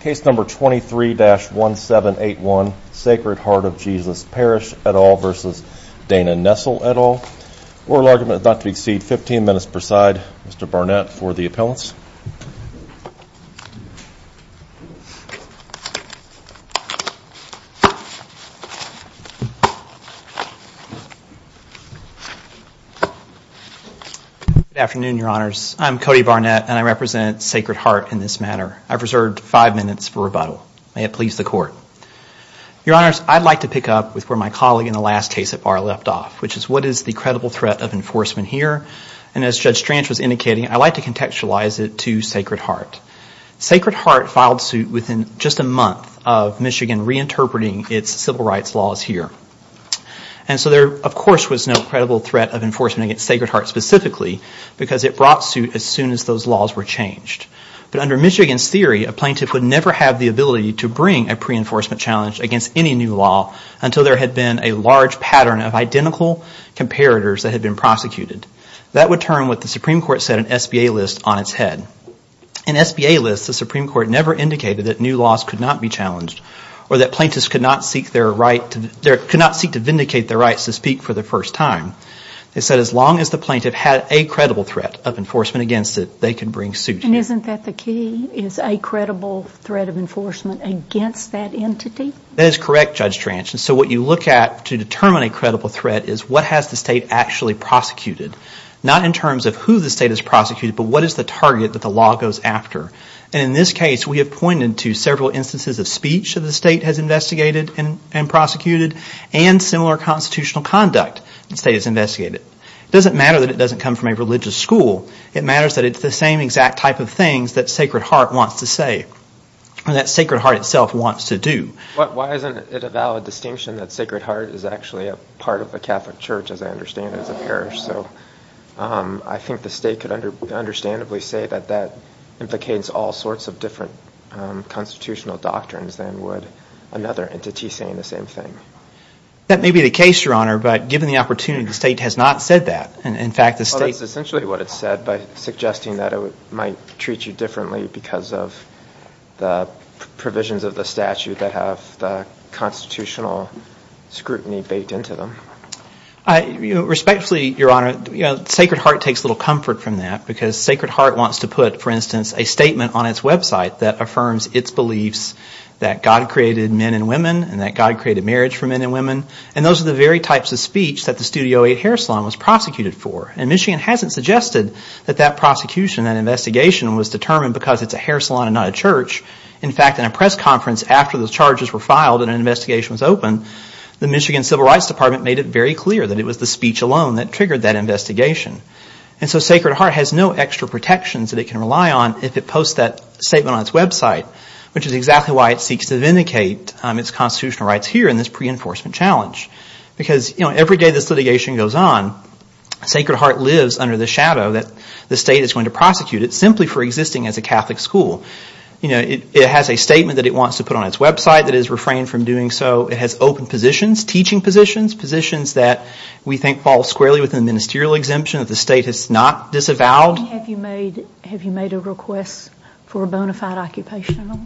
Case number 23-1781 Sacred Heart of Jesus Parish et al. v. Dana Nessel et al. Oral argument is not to exceed 15 minutes per side. Mr. Barnett for the appellants. Good afternoon, Your Honors. I'm Cody Barnett, and I represent Sacred Heart in this matter. I've reserved five minutes for rebuttal. May it please the Court. Your Honors, I'd like to pick up with where my colleague in the last case at bar left off, which is what is the credible threat of enforcement here. And as Judge Stranch was indicating, I'd like to contextualize it to Sacred Heart. Sacred Heart filed suit within just a month of Michigan reinterpreting its civil rights laws here. And so there, of course, was no credible threat of enforcement against Sacred Heart specifically because it brought suit as soon as those laws were changed. But under Michigan's theory, a plaintiff would never have the ability to bring a pre-enforcement challenge against any new law until there had been a large pattern of identical comparators that had been prosecuted. That would turn what the Supreme Court said an SBA list on its head. An SBA list, the Supreme Court never indicated that new laws could not be challenged or that plaintiffs could not seek their right to, could not seek to vindicate their rights to speak for the first time. They said as long as the plaintiff had a credible threat of enforcement against it, they could bring suit. And isn't that the key, is a credible threat of enforcement against that entity? That is correct, Judge Stranch. And so what you look at to determine a credible threat is what has the state actually prosecuted, not in terms of who the state has prosecuted, but what is the target that the law goes after. And in this case, we have pointed to several instances of speech that the state has investigated and prosecuted and similar constitutional conduct the state has investigated. It doesn't matter that it doesn't come from a religious school. It matters that it's the same exact type of things that Sacred Heart wants to say and that Sacred Heart itself wants to do. Why isn't it a valid distinction that Sacred I think the state could understandably say that that implicates all sorts of different constitutional doctrines than would another entity saying the same thing. That may be the case, Your Honor, but given the opportunity, the state has not said that. In fact, the state... That's essentially what it said by suggesting that it might treat you differently because of the provisions of the statute that have the constitutional scrutiny baked into them. Respectfully, Your Honor, Sacred Heart takes a little comfort from that because Sacred Heart wants to put, for instance, a statement on its website that affirms its beliefs that God created men and women and that God created marriage for men and women. And those are the very types of speech that the Studio 8 Hair Salon was prosecuted for. And Michigan hasn't suggested that that prosecution, that investigation was determined because it's a hair salon and not a church. In fact, in a press conference after those charges were filed and an investigation was opened, the Michigan Civil Rights Department made it very clear that it was the speech alone that triggered that investigation. And so Sacred Heart has no extra protections that it can rely on if it posts that statement on its website, which is exactly why it seeks to vindicate its constitutional rights here in this pre-enforcement challenge. Because every day this litigation goes on, Sacred Heart lives under the shadow that the state is going to prosecute it simply for existing as a Catholic school. It has a statement that it wants to put on its website that it has refrained from doing so. It has open positions, teaching positions, positions that we think fall squarely within the ministerial exemption that the state has not disavowed. Have you made a request for a bona fide occupational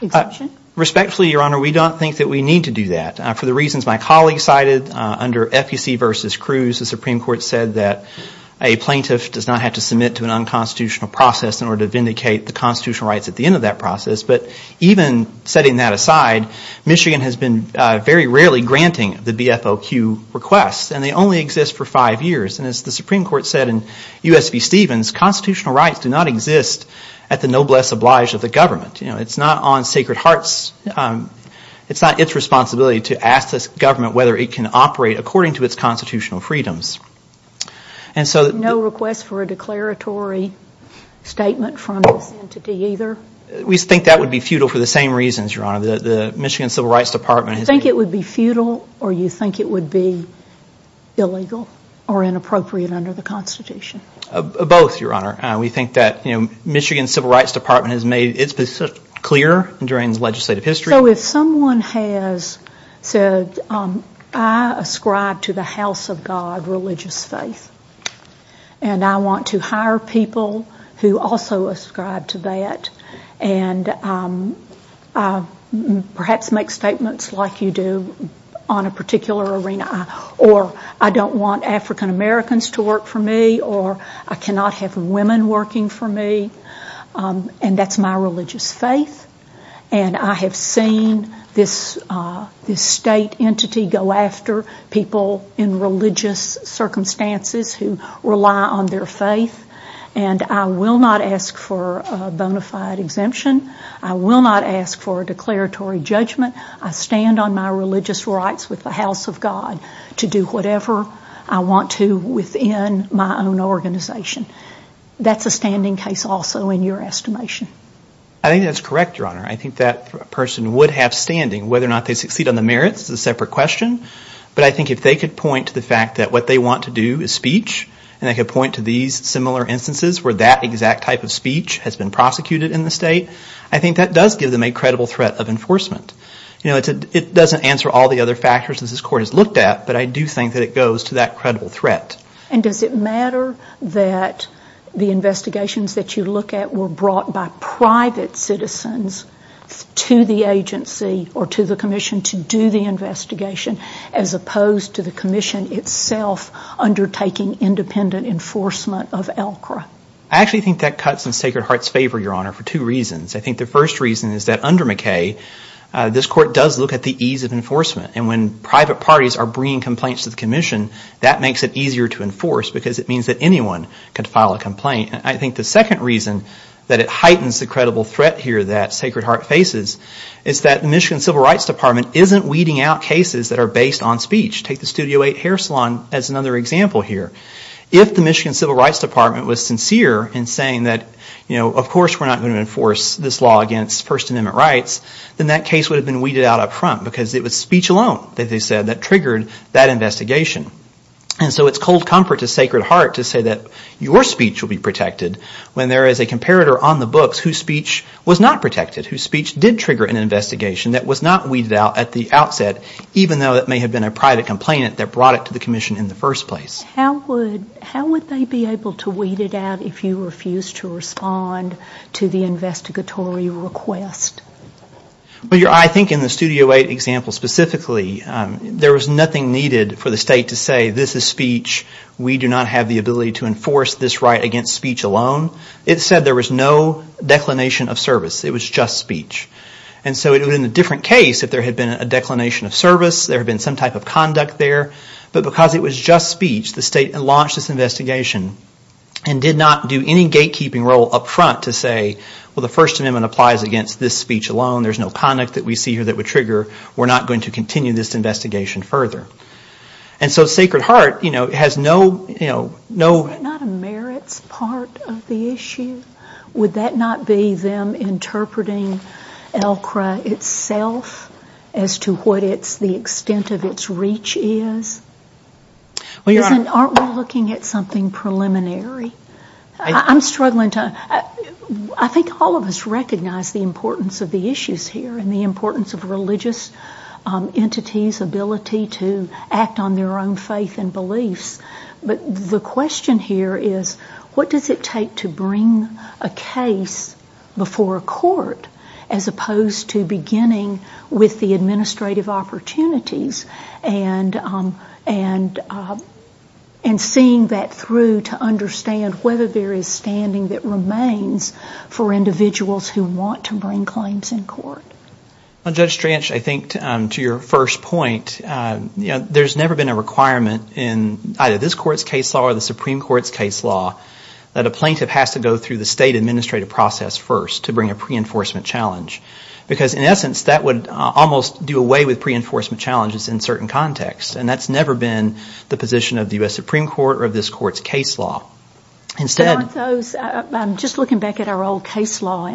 exemption? Respectfully, Your Honor, we don't think that we need to do that. For the reasons my colleague cited under FEC versus Cruz, the Supreme Court said that a plaintiff does not have to submit to an unconstitutional process in order to vindicate the constitutional rights at the process. But even setting that aside, Michigan has been very rarely granting the BFOQ requests and they only exist for five years. And as the Supreme Court said in U.S. v. Stevens, constitutional rights do not exist at the noblesse oblige of the government. You know, it's not on Sacred Heart's, it's not its responsibility to ask this government whether it can operate according to its constitutional freedoms. No request for a declaratory statement from this entity either? We think that would be futile for the same reasons, Your Honor. The Michigan Civil Rights Department has made... You think it would be futile or you think it would be illegal or inappropriate under the Constitution? Both, Your Honor. We think that Michigan Civil Rights Department has made its position clear during legislative history. So if someone has said, I ascribe to the house of God, religious faith, and I want to hire people who also ascribe to that and perhaps make statements like you do on a particular arena or I don't want African Americans to work for me or I cannot have women working for me, and that's my religious faith, and I have seen this state entity go after people in religious circumstances who rely on their faith, and I will not ask for a bonafide exemption. I will not ask for a declaratory judgment. I stand on my religious rights with the house of God to do whatever I want to within my own organization. That's a standing case also in your estimation. I think that's correct, Your Honor. I think that person would have standing. Whether or not they succeed on the merits is a separate question, but I think if they could point to the fact that what they want to do is speech and they could point to these similar instances where that exact type of speech has been prosecuted in the state, I think that does give them a credible threat of enforcement. It doesn't answer all the other factors that this court has looked at, but I do think that it goes to that credible threat. And does it matter that the investigations that you look at were brought by private citizens to the agency or to the commission to do the investigation as opposed to the commission itself undertaking independent enforcement of ELCRA? I actually think that cuts in Sacred Heart's favor, Your Honor, for two reasons. I think the first reason is that under McKay, this court does look at the ease of enforcement. And when private parties are bringing complaints to the commission, that makes it easier to enforce because it means that anyone can file a complaint. I think the second reason that it heightens the credible threat here that Sacred Heart faces is that the Michigan Civil Rights Department isn't weeding out cases that are based on speech. Take the Studio 8 hair salon as another example here. If the Michigan Civil Rights Department was sincere in saying that, you know, of course we're not going to enforce this law against First Amendment rights, then that case would have been weeded out up front because it was speech alone that they said that triggered that investigation. And so it's cold comfort to Sacred Heart to say that your speech will be protected when there is a comparator on the books whose speech was not protected, whose speech did trigger an investigation that was not weeded out at the outset, even though it may have been a private complainant that brought it to the commission in the first place. How would they be able to weed it out if you refused to respond to the investigatory request? I think in the Studio 8 example specifically, there was nothing needed for the state to say this is speech, we do not have the ability to enforce this right against speech alone. It said there was no declination of service. It was just speech. And so in a different case, if there had been a declination of service, there had been some type of conduct there, but because it was just speech, the state launched this investigation and did not do any gatekeeping role up front to say, well the First Amendment applies against this speech alone, there's no conduct that we see here that would trigger, we're not going to continue this investigation further. And so Sacred Heart has no... Is that not a merits part of the issue? Would that not be them interpreting ELCRA itself as to what the extent of its reach is? Aren't we looking at something preliminary? I'm struggling to... I think all of us recognize the importance of the issues here and the importance of religious entities' ability to act on their own faith and beliefs, but the question here is, what does it take to bring a case before a court as opposed to beginning with the administrative opportunities and seeing that through to understand whether there is standing that remains for individuals who want to bring claims in court? Well, Judge Stranch, I think to your first point, there's never been a requirement in either this Court's case law or the Supreme Court's case law that a plaintiff has to go through the state administrative process first to bring a pre-enforcement challenge. Because in essence, that would almost do away with pre-enforcement challenges in certain contexts. And that's never been the position of the U.S. Supreme Court or of this Court's case law. Instead... But aren't those... I'm just looking back at our old case law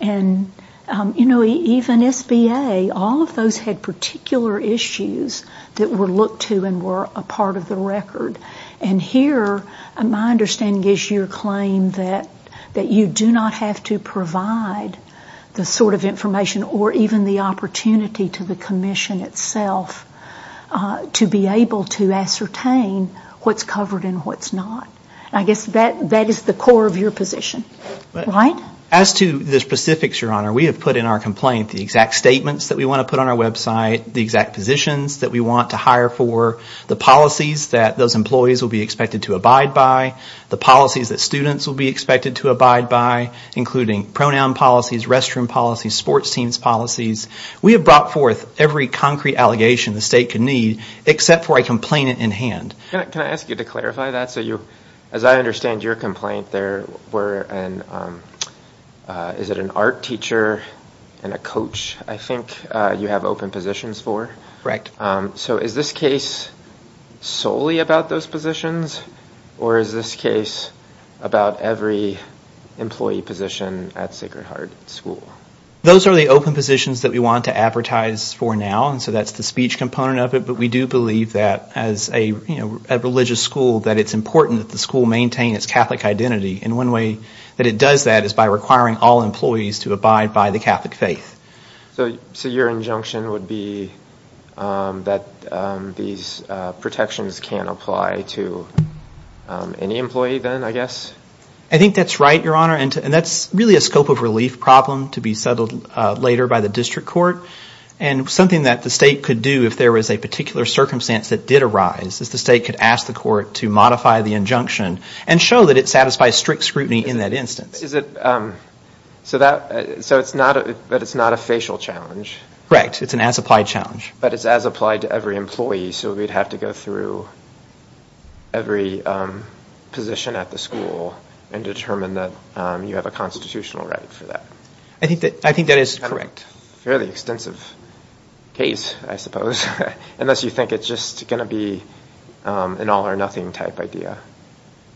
and even SBA, all of those had particular issues that were looked to and were a part of the record. And here, my understanding is your claim that you do not have to provide the sort of information or even the opportunity to the Commission itself to be able to ascertain what's covered and what's not. I guess that is the core of your position, right? As to the specifics, Your Honor, we have put in our complaint the exact statements that we want to put on our website, the exact positions that we want to hire for, the policies that those employees will be expected to abide by, the policies that students will be expected to abide by, including pronoun policies, restroom policies, sports teams policies. We have brought forth every concrete allegation the State can need, except for a complainant in hand. Can I ask you to clarify that so you... As I understand your complaint, there were an... Is it an art teacher and a coach, I think, you have open positions for? Correct. So is this case solely about those positions, or is this case about every employee position at Sacred Heart School? Those are the open positions that we want to advertise for now, and so that's the speech component of it, but we do believe that as a religious school, that it's important that the school maintain its Catholic identity. And one way that it does that is by requiring all employees to abide by the Catholic faith. So your injunction would be that these protections can apply to any employee then, I guess? I think that's right, Your Honor, and that's really a scope of relief problem to be settled later by the district court, and something that the State could do if there was a particular circumstance that did arise, is the State could ask the court to modify the injunction and show that it satisfies strict scrutiny in that instance. But is it... So it's not a facial challenge? Correct. It's an as-applied challenge. But it's as-applied to every employee, so we'd have to go through every position at the school and determine that you have a constitutional right for that? I think that is correct. Fairly extensive case, I suppose, unless you think it's just going to be an all-or-nothing type idea.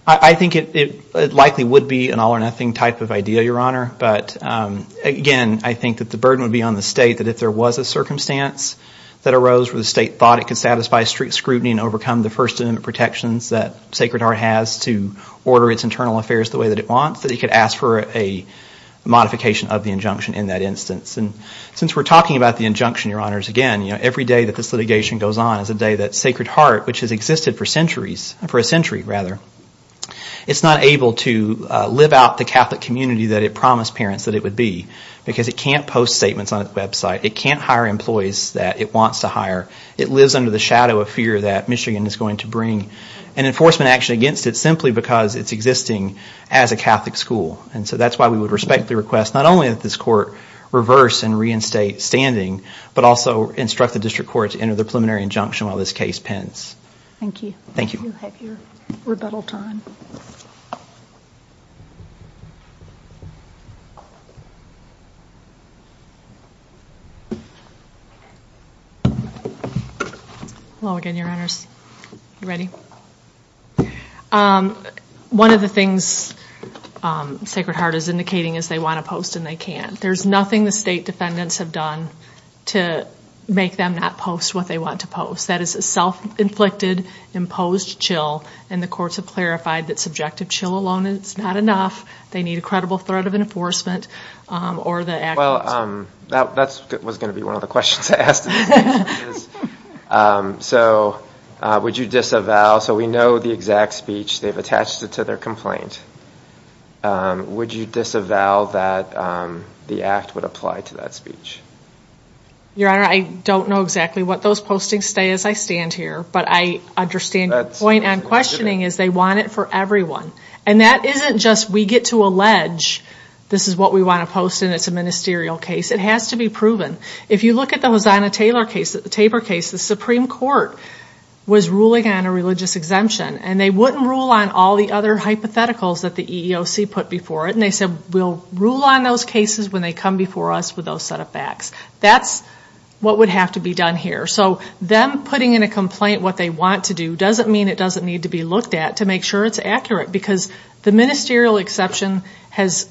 I think it likely would be an all-or-nothing type of idea, Your Honor, but again, I think that the burden would be on the State that if there was a circumstance that arose where the State thought it could satisfy strict scrutiny and overcome the First Amendment protections that Sacred Heart has to order its internal affairs the way that it wants, that it could ask for a modification of the injunction in that instance. And since we're talking about the injunction, Your Honors, again, every day that this litigation goes on is a day that Sacred Heart, which has existed for centuries, for a century rather, it's not able to live out the Catholic community that it promised parents that it would be because it can't post statements on its website. It can't hire employees that it wants to hire. It lives under the shadow of fear that Michigan is going to bring an enforcement action against it simply because it's existing as a Catholic school. And so that's why we would respectfully request not only that this Court reverse and reinstate standing but also instruct the District Court to enter the preliminary injunction while this case pens. Thank you. Thank you. You have your rebuttal time. Hello again, Your Honors. You ready? One of the things Sacred Heart is indicating is they want to post and they can't. There's nothing the State Defendants have done to make them not post what they want to post. That is a self-inflicted, imposed chill and the Courts have clarified that subjective chill alone is not enough. They need a credible threat of enforcement or the actions. Well, that was going to be one of the questions I asked in this case. So would you disavow, so we know the exact speech, they've attached it to their complaint. Would you disavow that the act would apply to that speech? Your Honor, I don't know exactly what those postings say as I stand here, but I understand your point on questioning is they want it for everyone. And that isn't just we get to allege this is what we want to post and it's a ministerial case. It has to be proven. If you look at the Hazana Tabor case, the Supreme Court was ruling on a religious exemption and they wouldn't rule on all the other hypotheticals that the EEOC put before it and they said we'll rule on those cases when they come before us with those set of facts. That's what would have to be done here. So them putting in a complaint what they want to do doesn't mean it doesn't need to be looked at to make sure it's accurate because the ministerial exception has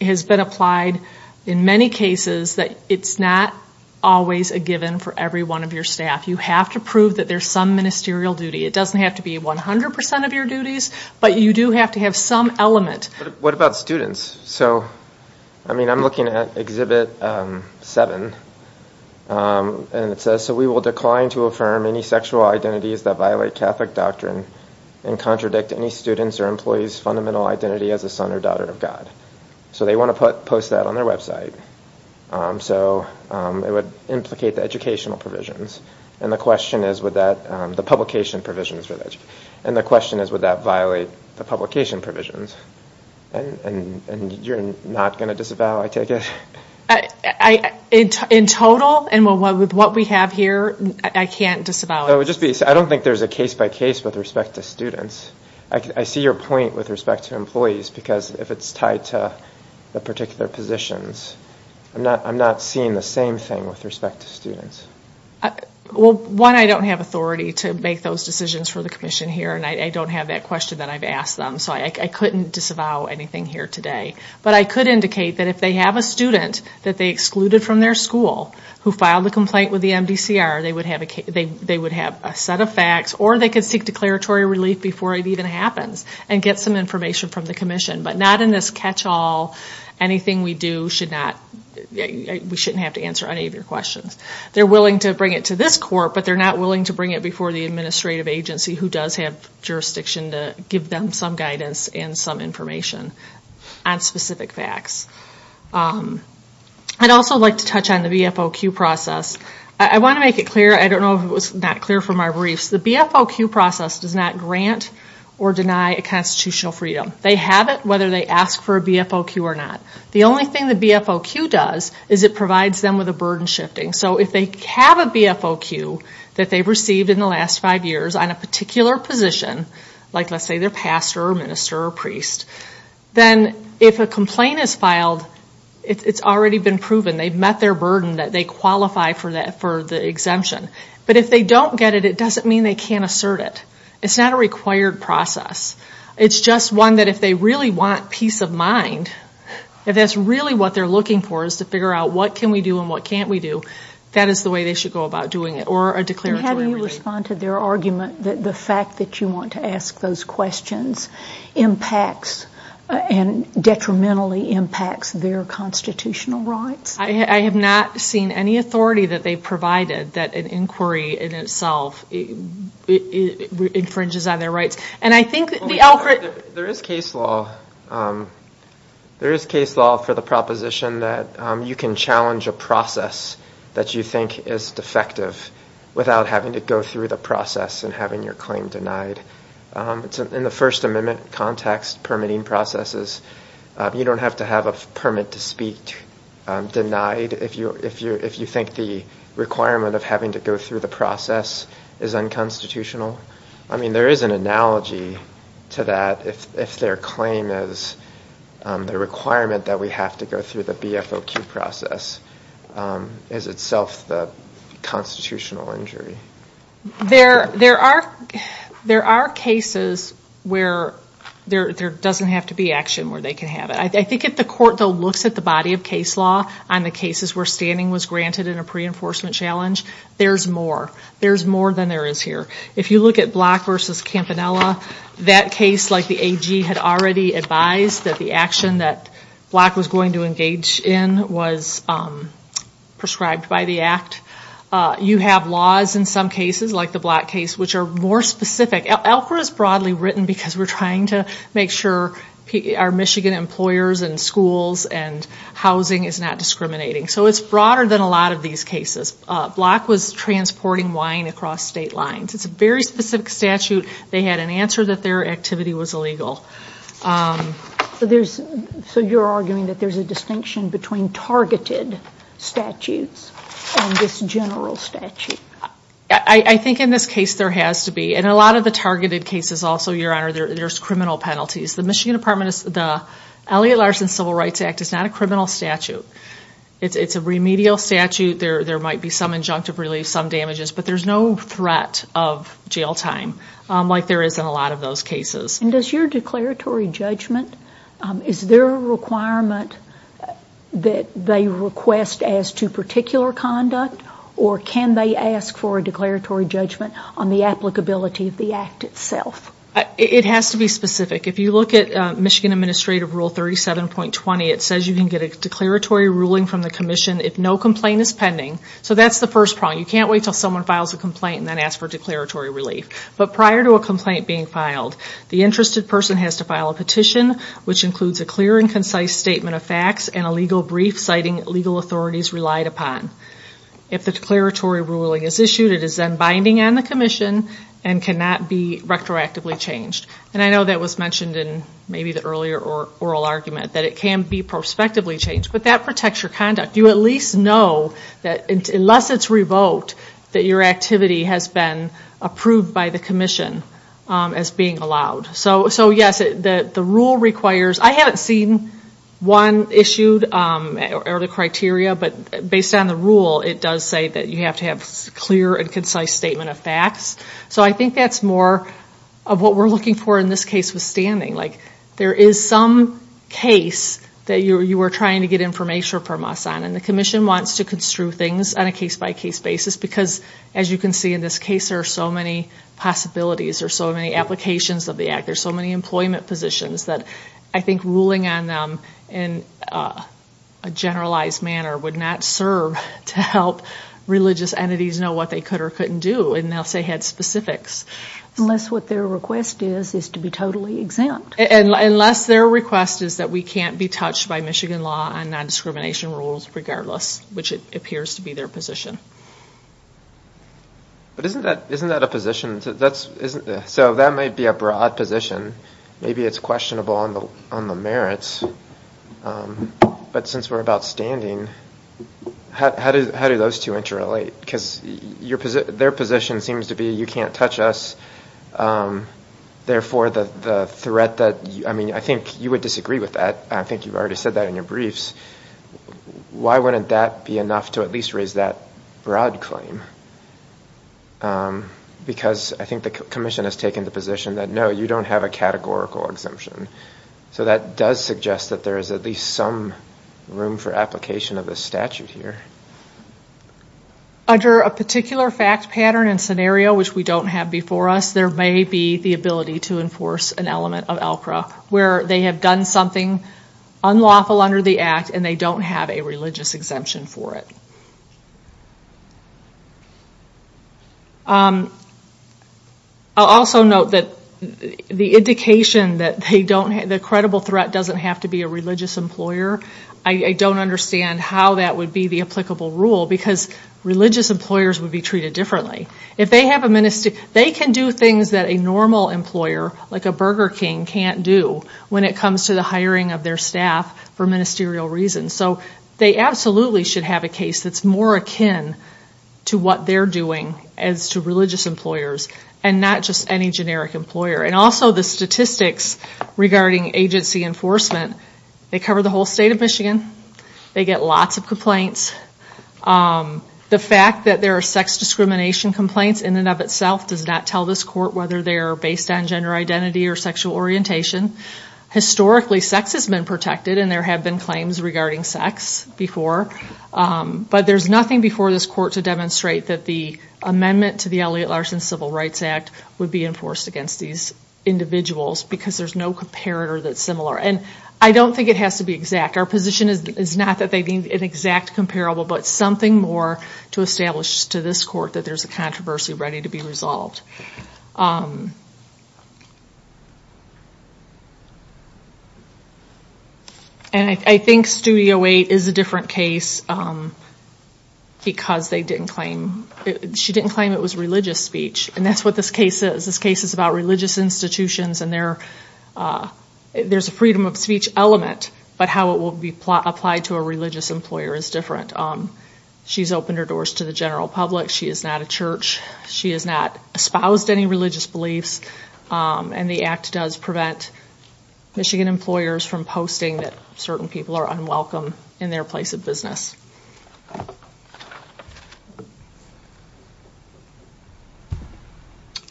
been applied in many cases that it's not always a given for every one of your staff. You have to prove that there's some ministerial duty. It doesn't have to be 100% of your duties, but you do have to have some element. What about students? So I mean I'm looking at Exhibit 7 and it says, so we will decline to affirm any sexual identities that violate Catholic doctrine and contradict any student's or employee's fundamental identity as a son or daughter of God. So they want to post that on their website. So it would implicate the educational provisions. And the question is would that, the publication provisions for that. And the question is would that violate the publication provisions? And you're not going to disavow, I take it? In total and with what we have here, I can't disavow. I don't think there's a case-by-case with respect to students. I see your point with respect to employees because if it's tied to the particular positions, I'm not seeing the same thing with respect to students. Well one, I don't have authority to make those decisions for the commission here and I don't have that question that I've asked them. So I couldn't disavow anything here today. But I could indicate that if they have a student that they excluded from their school who filed a complaint with the MDCR, they would have a set of facts or they could seek declaratory relief before it even happens and get some information from the commission. But not in this catch-all. Anything we do should not, we shouldn't have to answer any of your questions. They're willing to bring it to this court but they're not willing to bring it before the administrative agency who does have jurisdiction to give them some guidance and some information on specific facts. I'd also like to touch on the BFOQ process. I want to make it clear, I don't know if it was not clear from our briefs, the BFOQ process does not grant or deny a constitutional freedom. They have it whether they ask for a BFOQ or not. The only thing the BFOQ does is it provides them with a burden shifting. So if they have a BFOQ that they've received in the last five years on a particular position, like let's say their pastor or minister or priest, then if a complaint is filed, it's already been proven, they've met their burden that they qualify for the exemption. But if they don't get it, it doesn't mean they can't assert it. It's not a required process. It's just one that if they really want peace of mind, if that's really what they're looking for is to figure out what can we do and what can't we do, that is the way they should go about doing it or a declaratory remedy. And how do you respond to their argument that the fact that you want to ask those questions impacts and detrimentally impacts their constitutional rights? I have not seen any authority that they've provided that an inquiry in itself infringes on their rights. There is case law for the proposition that you can challenge a process that you think is defective without having to go through the process and having your claim denied. In the First Amendment context, permitting processes, you don't have to have a permit to speak denied if you think the requirement of having to go through the process is unconstitutional. I mean, there is an analogy to that if their claim is the requirement that we have to go through the BFOQ process is itself the constitutional injury. There are cases where there doesn't have to be action where they can have it. I think if the court, though, looks at the body of case law on the cases where standing was granted in a pre-enforcement challenge, there's more. There's more than there is here. If you look at Block v. Campanella, that case like the AG had already advised that the action that Block was going to engage in was prescribed by the act. You have laws in some cases, like the Block case, which are more specific. LCRA is broadly written because we're trying to make sure our Michigan employers and schools and housing is not discriminating. So it's broader than a lot of these cases. Block was transporting wine across state lines. It's a very specific statute. They had an answer that their activity was illegal. So you're arguing that there's a distinction between targeted statutes and this general statute? I think in this case there has to be. In a lot of the targeted cases also, Your Honor, there's criminal penalties. The Michigan Department of Civil Rights Act is not a criminal statute. It's a remedial statute. There might be some injunctive relief, some damages, but there's no threat of jail time like there is in a lot of those cases. And does your declaratory judgment, is there a requirement that they request as to particular conduct, or can they ask for a declaratory judgment on the applicability of the act itself? It has to be specific. If you look at Michigan Administrative Rule 37.20, it says you can get a declaratory ruling from the commission if no complaint is pending. So that's the first problem. You can't wait until someone files a complaint and then ask for declaratory relief. But prior to a complaint being filed, the interested person has to file a petition which includes a clear and concise statement of facts and a legal brief citing legal authorities relied upon. If the declaratory ruling is issued, it is then binding on the commission and cannot be retroactively changed. And I know that was mentioned in maybe the earlier oral argument, that it can be prospectively changed. But that protects your conduct. You at least know that unless it's revoked, that your activity has been approved by the commission as being allowed. So yes, the rule requires, I haven't seen one issued or the criteria, but based on the rule, it does say that you have to have a clear and concise statement of facts. So I think that's more of what we're looking for in this case with standing. Like, there is some case that you are trying to get information from us on. And the commission wants to construe things on a case-by-case basis because, as you can see in this case, there are so many possibilities. There are so many applications of the act. There are so many employment positions that I think ruling on them in a generalized manner would not serve to help religious entities know what they could or couldn't do unless they had specifics. Unless what their request is, is to be totally exempt. Unless their request is that we can't be touched by Michigan law on non-discrimination rules regardless, which it appears to be their position. But isn't that a position? So that might be a broad position. Maybe it's questionable on the merits. But since we're about standing, how do those two interrelate? Because their position seems to be you can't touch us. Therefore, the threat that, I mean, I think you would disagree with that. I think you've already said that in your briefs. Why wouldn't that be enough to at least raise that broad claim? Because I think the commission has taken the position that no, you don't have a categorical exemption. So that does suggest that there is at least some room for application of this statute here. Under a particular fact pattern and scenario, which we don't have before us, there may be the ability to enforce an element of ELCRA where they have done something unlawful under the act and they don't have a religious exemption for it. I'll also note that the indication that they don't have, the credible threat doesn't have to be a religious employer. I don't understand how that would be the applicable rule because religious employers would be treated differently. If they have a minister, they can do things that a normal employer, like a Burger King, can't do when it comes to the hiring of their staff for ministerial reasons. So they absolutely should have a case that's more akin to what they're doing as to religious employers and not just any generic employer. And also the statistics regarding agency enforcement. They cover the whole state of Michigan. They get lots of complaints. The fact that there are sex discrimination complaints in and of itself does not tell this court whether they are based on gender identity or sexual orientation. Historically, sex has been protected and there have been claims regarding sex before. But there's nothing before this court to demonstrate that the amendment to the Elliott-Larsen Civil Rights Act would be enforced against these individuals because there's no comparator that's similar. And I don't think it has to be exact. Our position is not that they need an exact comparable, but something more to establish to this court that there's a controversy ready to be resolved. And I think Studio 8 is a different case because they didn't claim, she didn't claim it was religious speech. And that's what this case is. This case is about religious institutions and there's a freedom of speech element. But how it will be applied to a religious employer is different. She's opened her doors to the general public. She is not a church. She has not espoused any religious beliefs. And the act does prevent Michigan employers from posting that certain people are unwelcome in their place of business.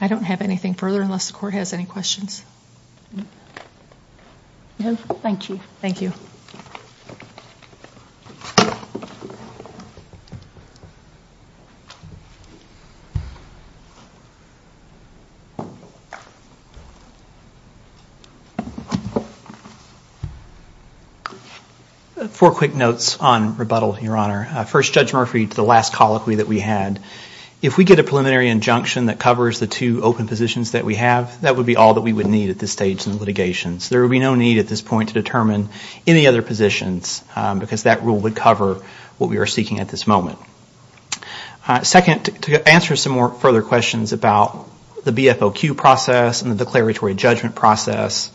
I don't have anything further unless the court has any questions. No, thank you. Thank you. Four quick notes on rebuttal, Your Honor. First, Judge Murphy, to the last colloquy that we had. If we get a preliminary injunction that covers the two open positions that we have, that would be all that we would need at this stage in the litigation. So there would be no need at this point to determine any other positions because that rule would cover what we are seeking at this moment. Second, to answer some more further questions about the BFOQ process and the declaratory judgment process,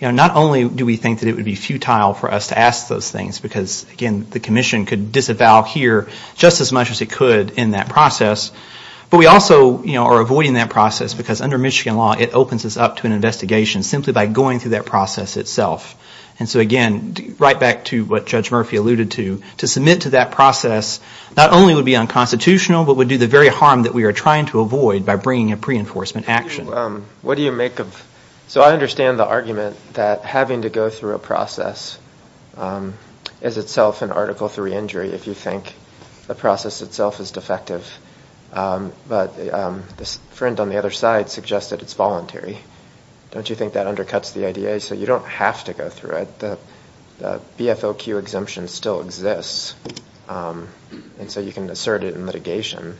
not only do we think that it would be futile for us to ask those things because, again, the commission could disavow here just as much as it could in that process. But we also are avoiding that process because under Michigan law, it opens us up to an investigation simply by going through that process itself. And so again, right back to what Judge Murphy alluded to, to submit to that process not only would be unconstitutional, but would do the very harm that we are trying to avoid by bringing a pre-enforcement action. What do you make of... So I understand the argument that having to go through a process is itself an Article III injury if you think the process itself is defective. But this friend on the other side suggested it's voluntary. Don't you think that undercuts the idea? So you don't have to go through it. The BFOQ exemption still exists. And so you can assert it in litigation.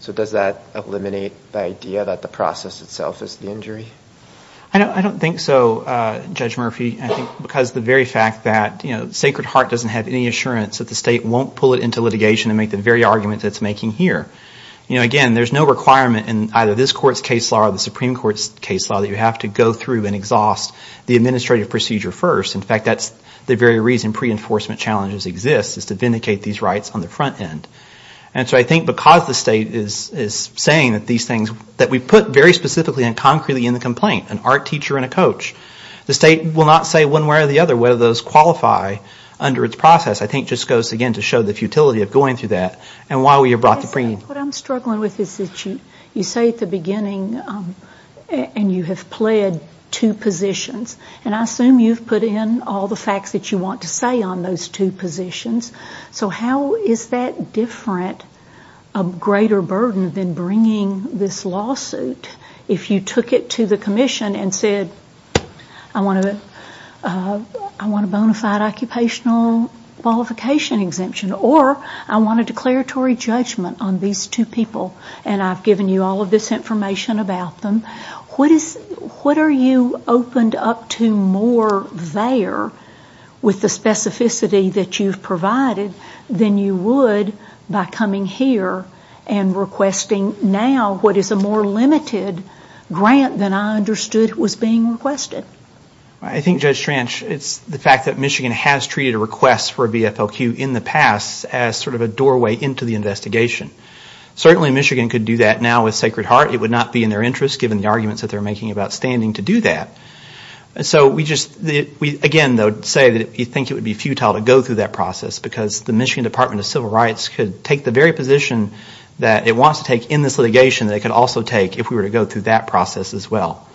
So does that eliminate the idea that the process itself is the injury? I don't think so, Judge Murphy. I think because the very fact that Sacred Heart doesn't have any assurance that the state won't pull it into litigation and make the very argument that it's making here. Again, there's no requirement in either this court's case law or the Supreme Court's case law that you have to go through and exhaust the administrative procedure first. In fact, that's the very reason pre-enforcement challenges exist, is to vindicate these rights on the front end. And so I think because the state is saying that these things, that we put very specifically and concretely in the complaint, an art teacher and a coach, the state will not say one way or the other whether those qualify under its process. I think it just goes, again, to show the futility of going through that and why we have brought the premium. What I'm struggling with is that you say at the beginning, and you have pled two positions, and I assume you've put in all the facts that you want to say on those two positions. So how is that different, a greater burden than bringing this lawsuit? If you took it to the commission and said, I want a bona fide occupational qualification exemption, or I want a declaratory judgment on these two people, and I've given you all of this information about them, what are you opened up to more there with the specificity that you've provided than you would by coming here and requesting now what is a more limited grant than I understood was being requested? I think, Judge Tranch, it's the fact that Michigan has treated a request for a VFLQ in the past as sort of a doorway into the investigation. Certainly, Michigan could do that now with Sacred Heart. It would not be in their interest, given the arguments that they're making about standing to do that. So we just, again, say that we think it would be futile to go through that process because the Michigan Department of Civil Rights could take the very position that it wants to take in this litigation that it could also take if we were to go through that process as well.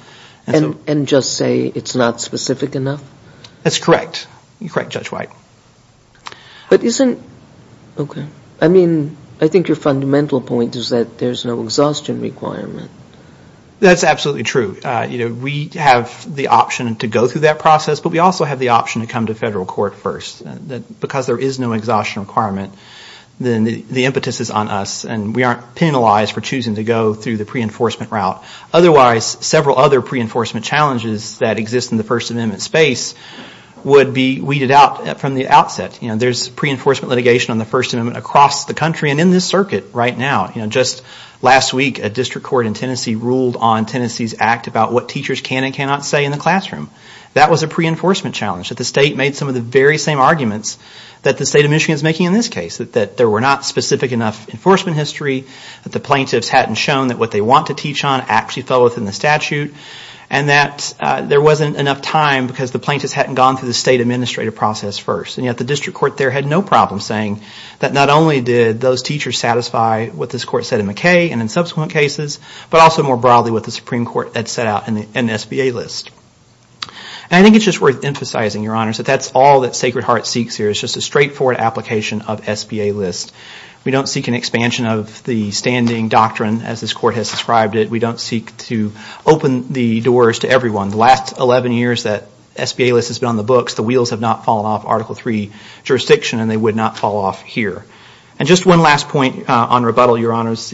And just say it's not specific enough? That's correct. You're correct, Judge White. But isn't, okay, I mean, I think your fundamental point is that there's no exhaustion requirement. That's absolutely true. We have the option to go through that process, but we also have the option to come to federal court first. Because there is no exhaustion requirement, then the impetus is on us and we aren't penalized for choosing to go through the pre-enforcement route. Otherwise, several other pre-enforcement challenges that exist in the First Amendment space would be weeded out from the outset. There's pre-enforcement litigation on the First Amendment across the country and in this circuit right now. Just last week, a district court in Tennessee ruled on Tennessee's act about what teachers can and cannot say in the classroom. That was a pre-enforcement challenge. That the state made some of the very same arguments that the state of Michigan is making in this case. That there were not specific enough enforcement history. That the plaintiffs hadn't shown that what they want to teach on actually fell within the statute. And that there wasn't enough time because the plaintiffs hadn't gone through the state administrative process first. And yet the district court there had no problem saying that not only did those teachers satisfy what this court said in McKay and in subsequent cases, but also more broadly what the Supreme Court had set out in the SBA list. And I think it's just worth emphasizing, Your Honors, that that's all that Sacred Heart seeks here. It's just a straightforward application of SBA list. We don't seek an expansion of the standing doctrine as this court has described it. We don't seek to open the doors to everyone. The last 11 years that SBA list has been on the books, the wheels have not fallen off Article III jurisdiction and they would not fall off here. And just one last point on rebuttal, Your Honors.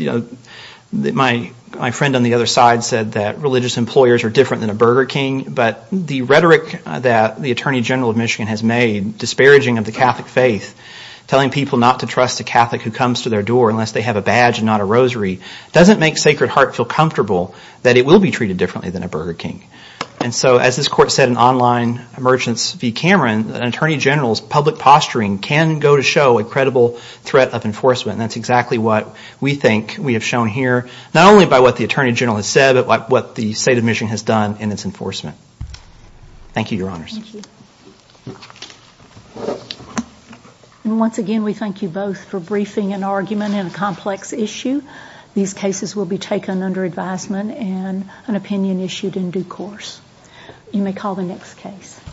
My friend on the other side said that religious employers are different than a Burger King. But the rhetoric that the Attorney General of Michigan has made, disparaging of the Catholic faith, telling people not to trust a Catholic who comes to their door unless they have a badge and not a rosary, doesn't make Sacred Heart feel comfortable that it will be treated differently than a Burger King. And so as this court said in online emergence v. Cameron, an Attorney General's public posturing can go to show a credible threat of enforcement. And that's exactly what we think we have shown here, not only by what the Attorney General has said, but what the state of Michigan has done in its enforcement. Thank you, Your Honors. Thank you. And once again, we thank you both for briefing an argument in a complex issue. These cases will be taken under advisement and an opinion issued in due course. You may call the next case.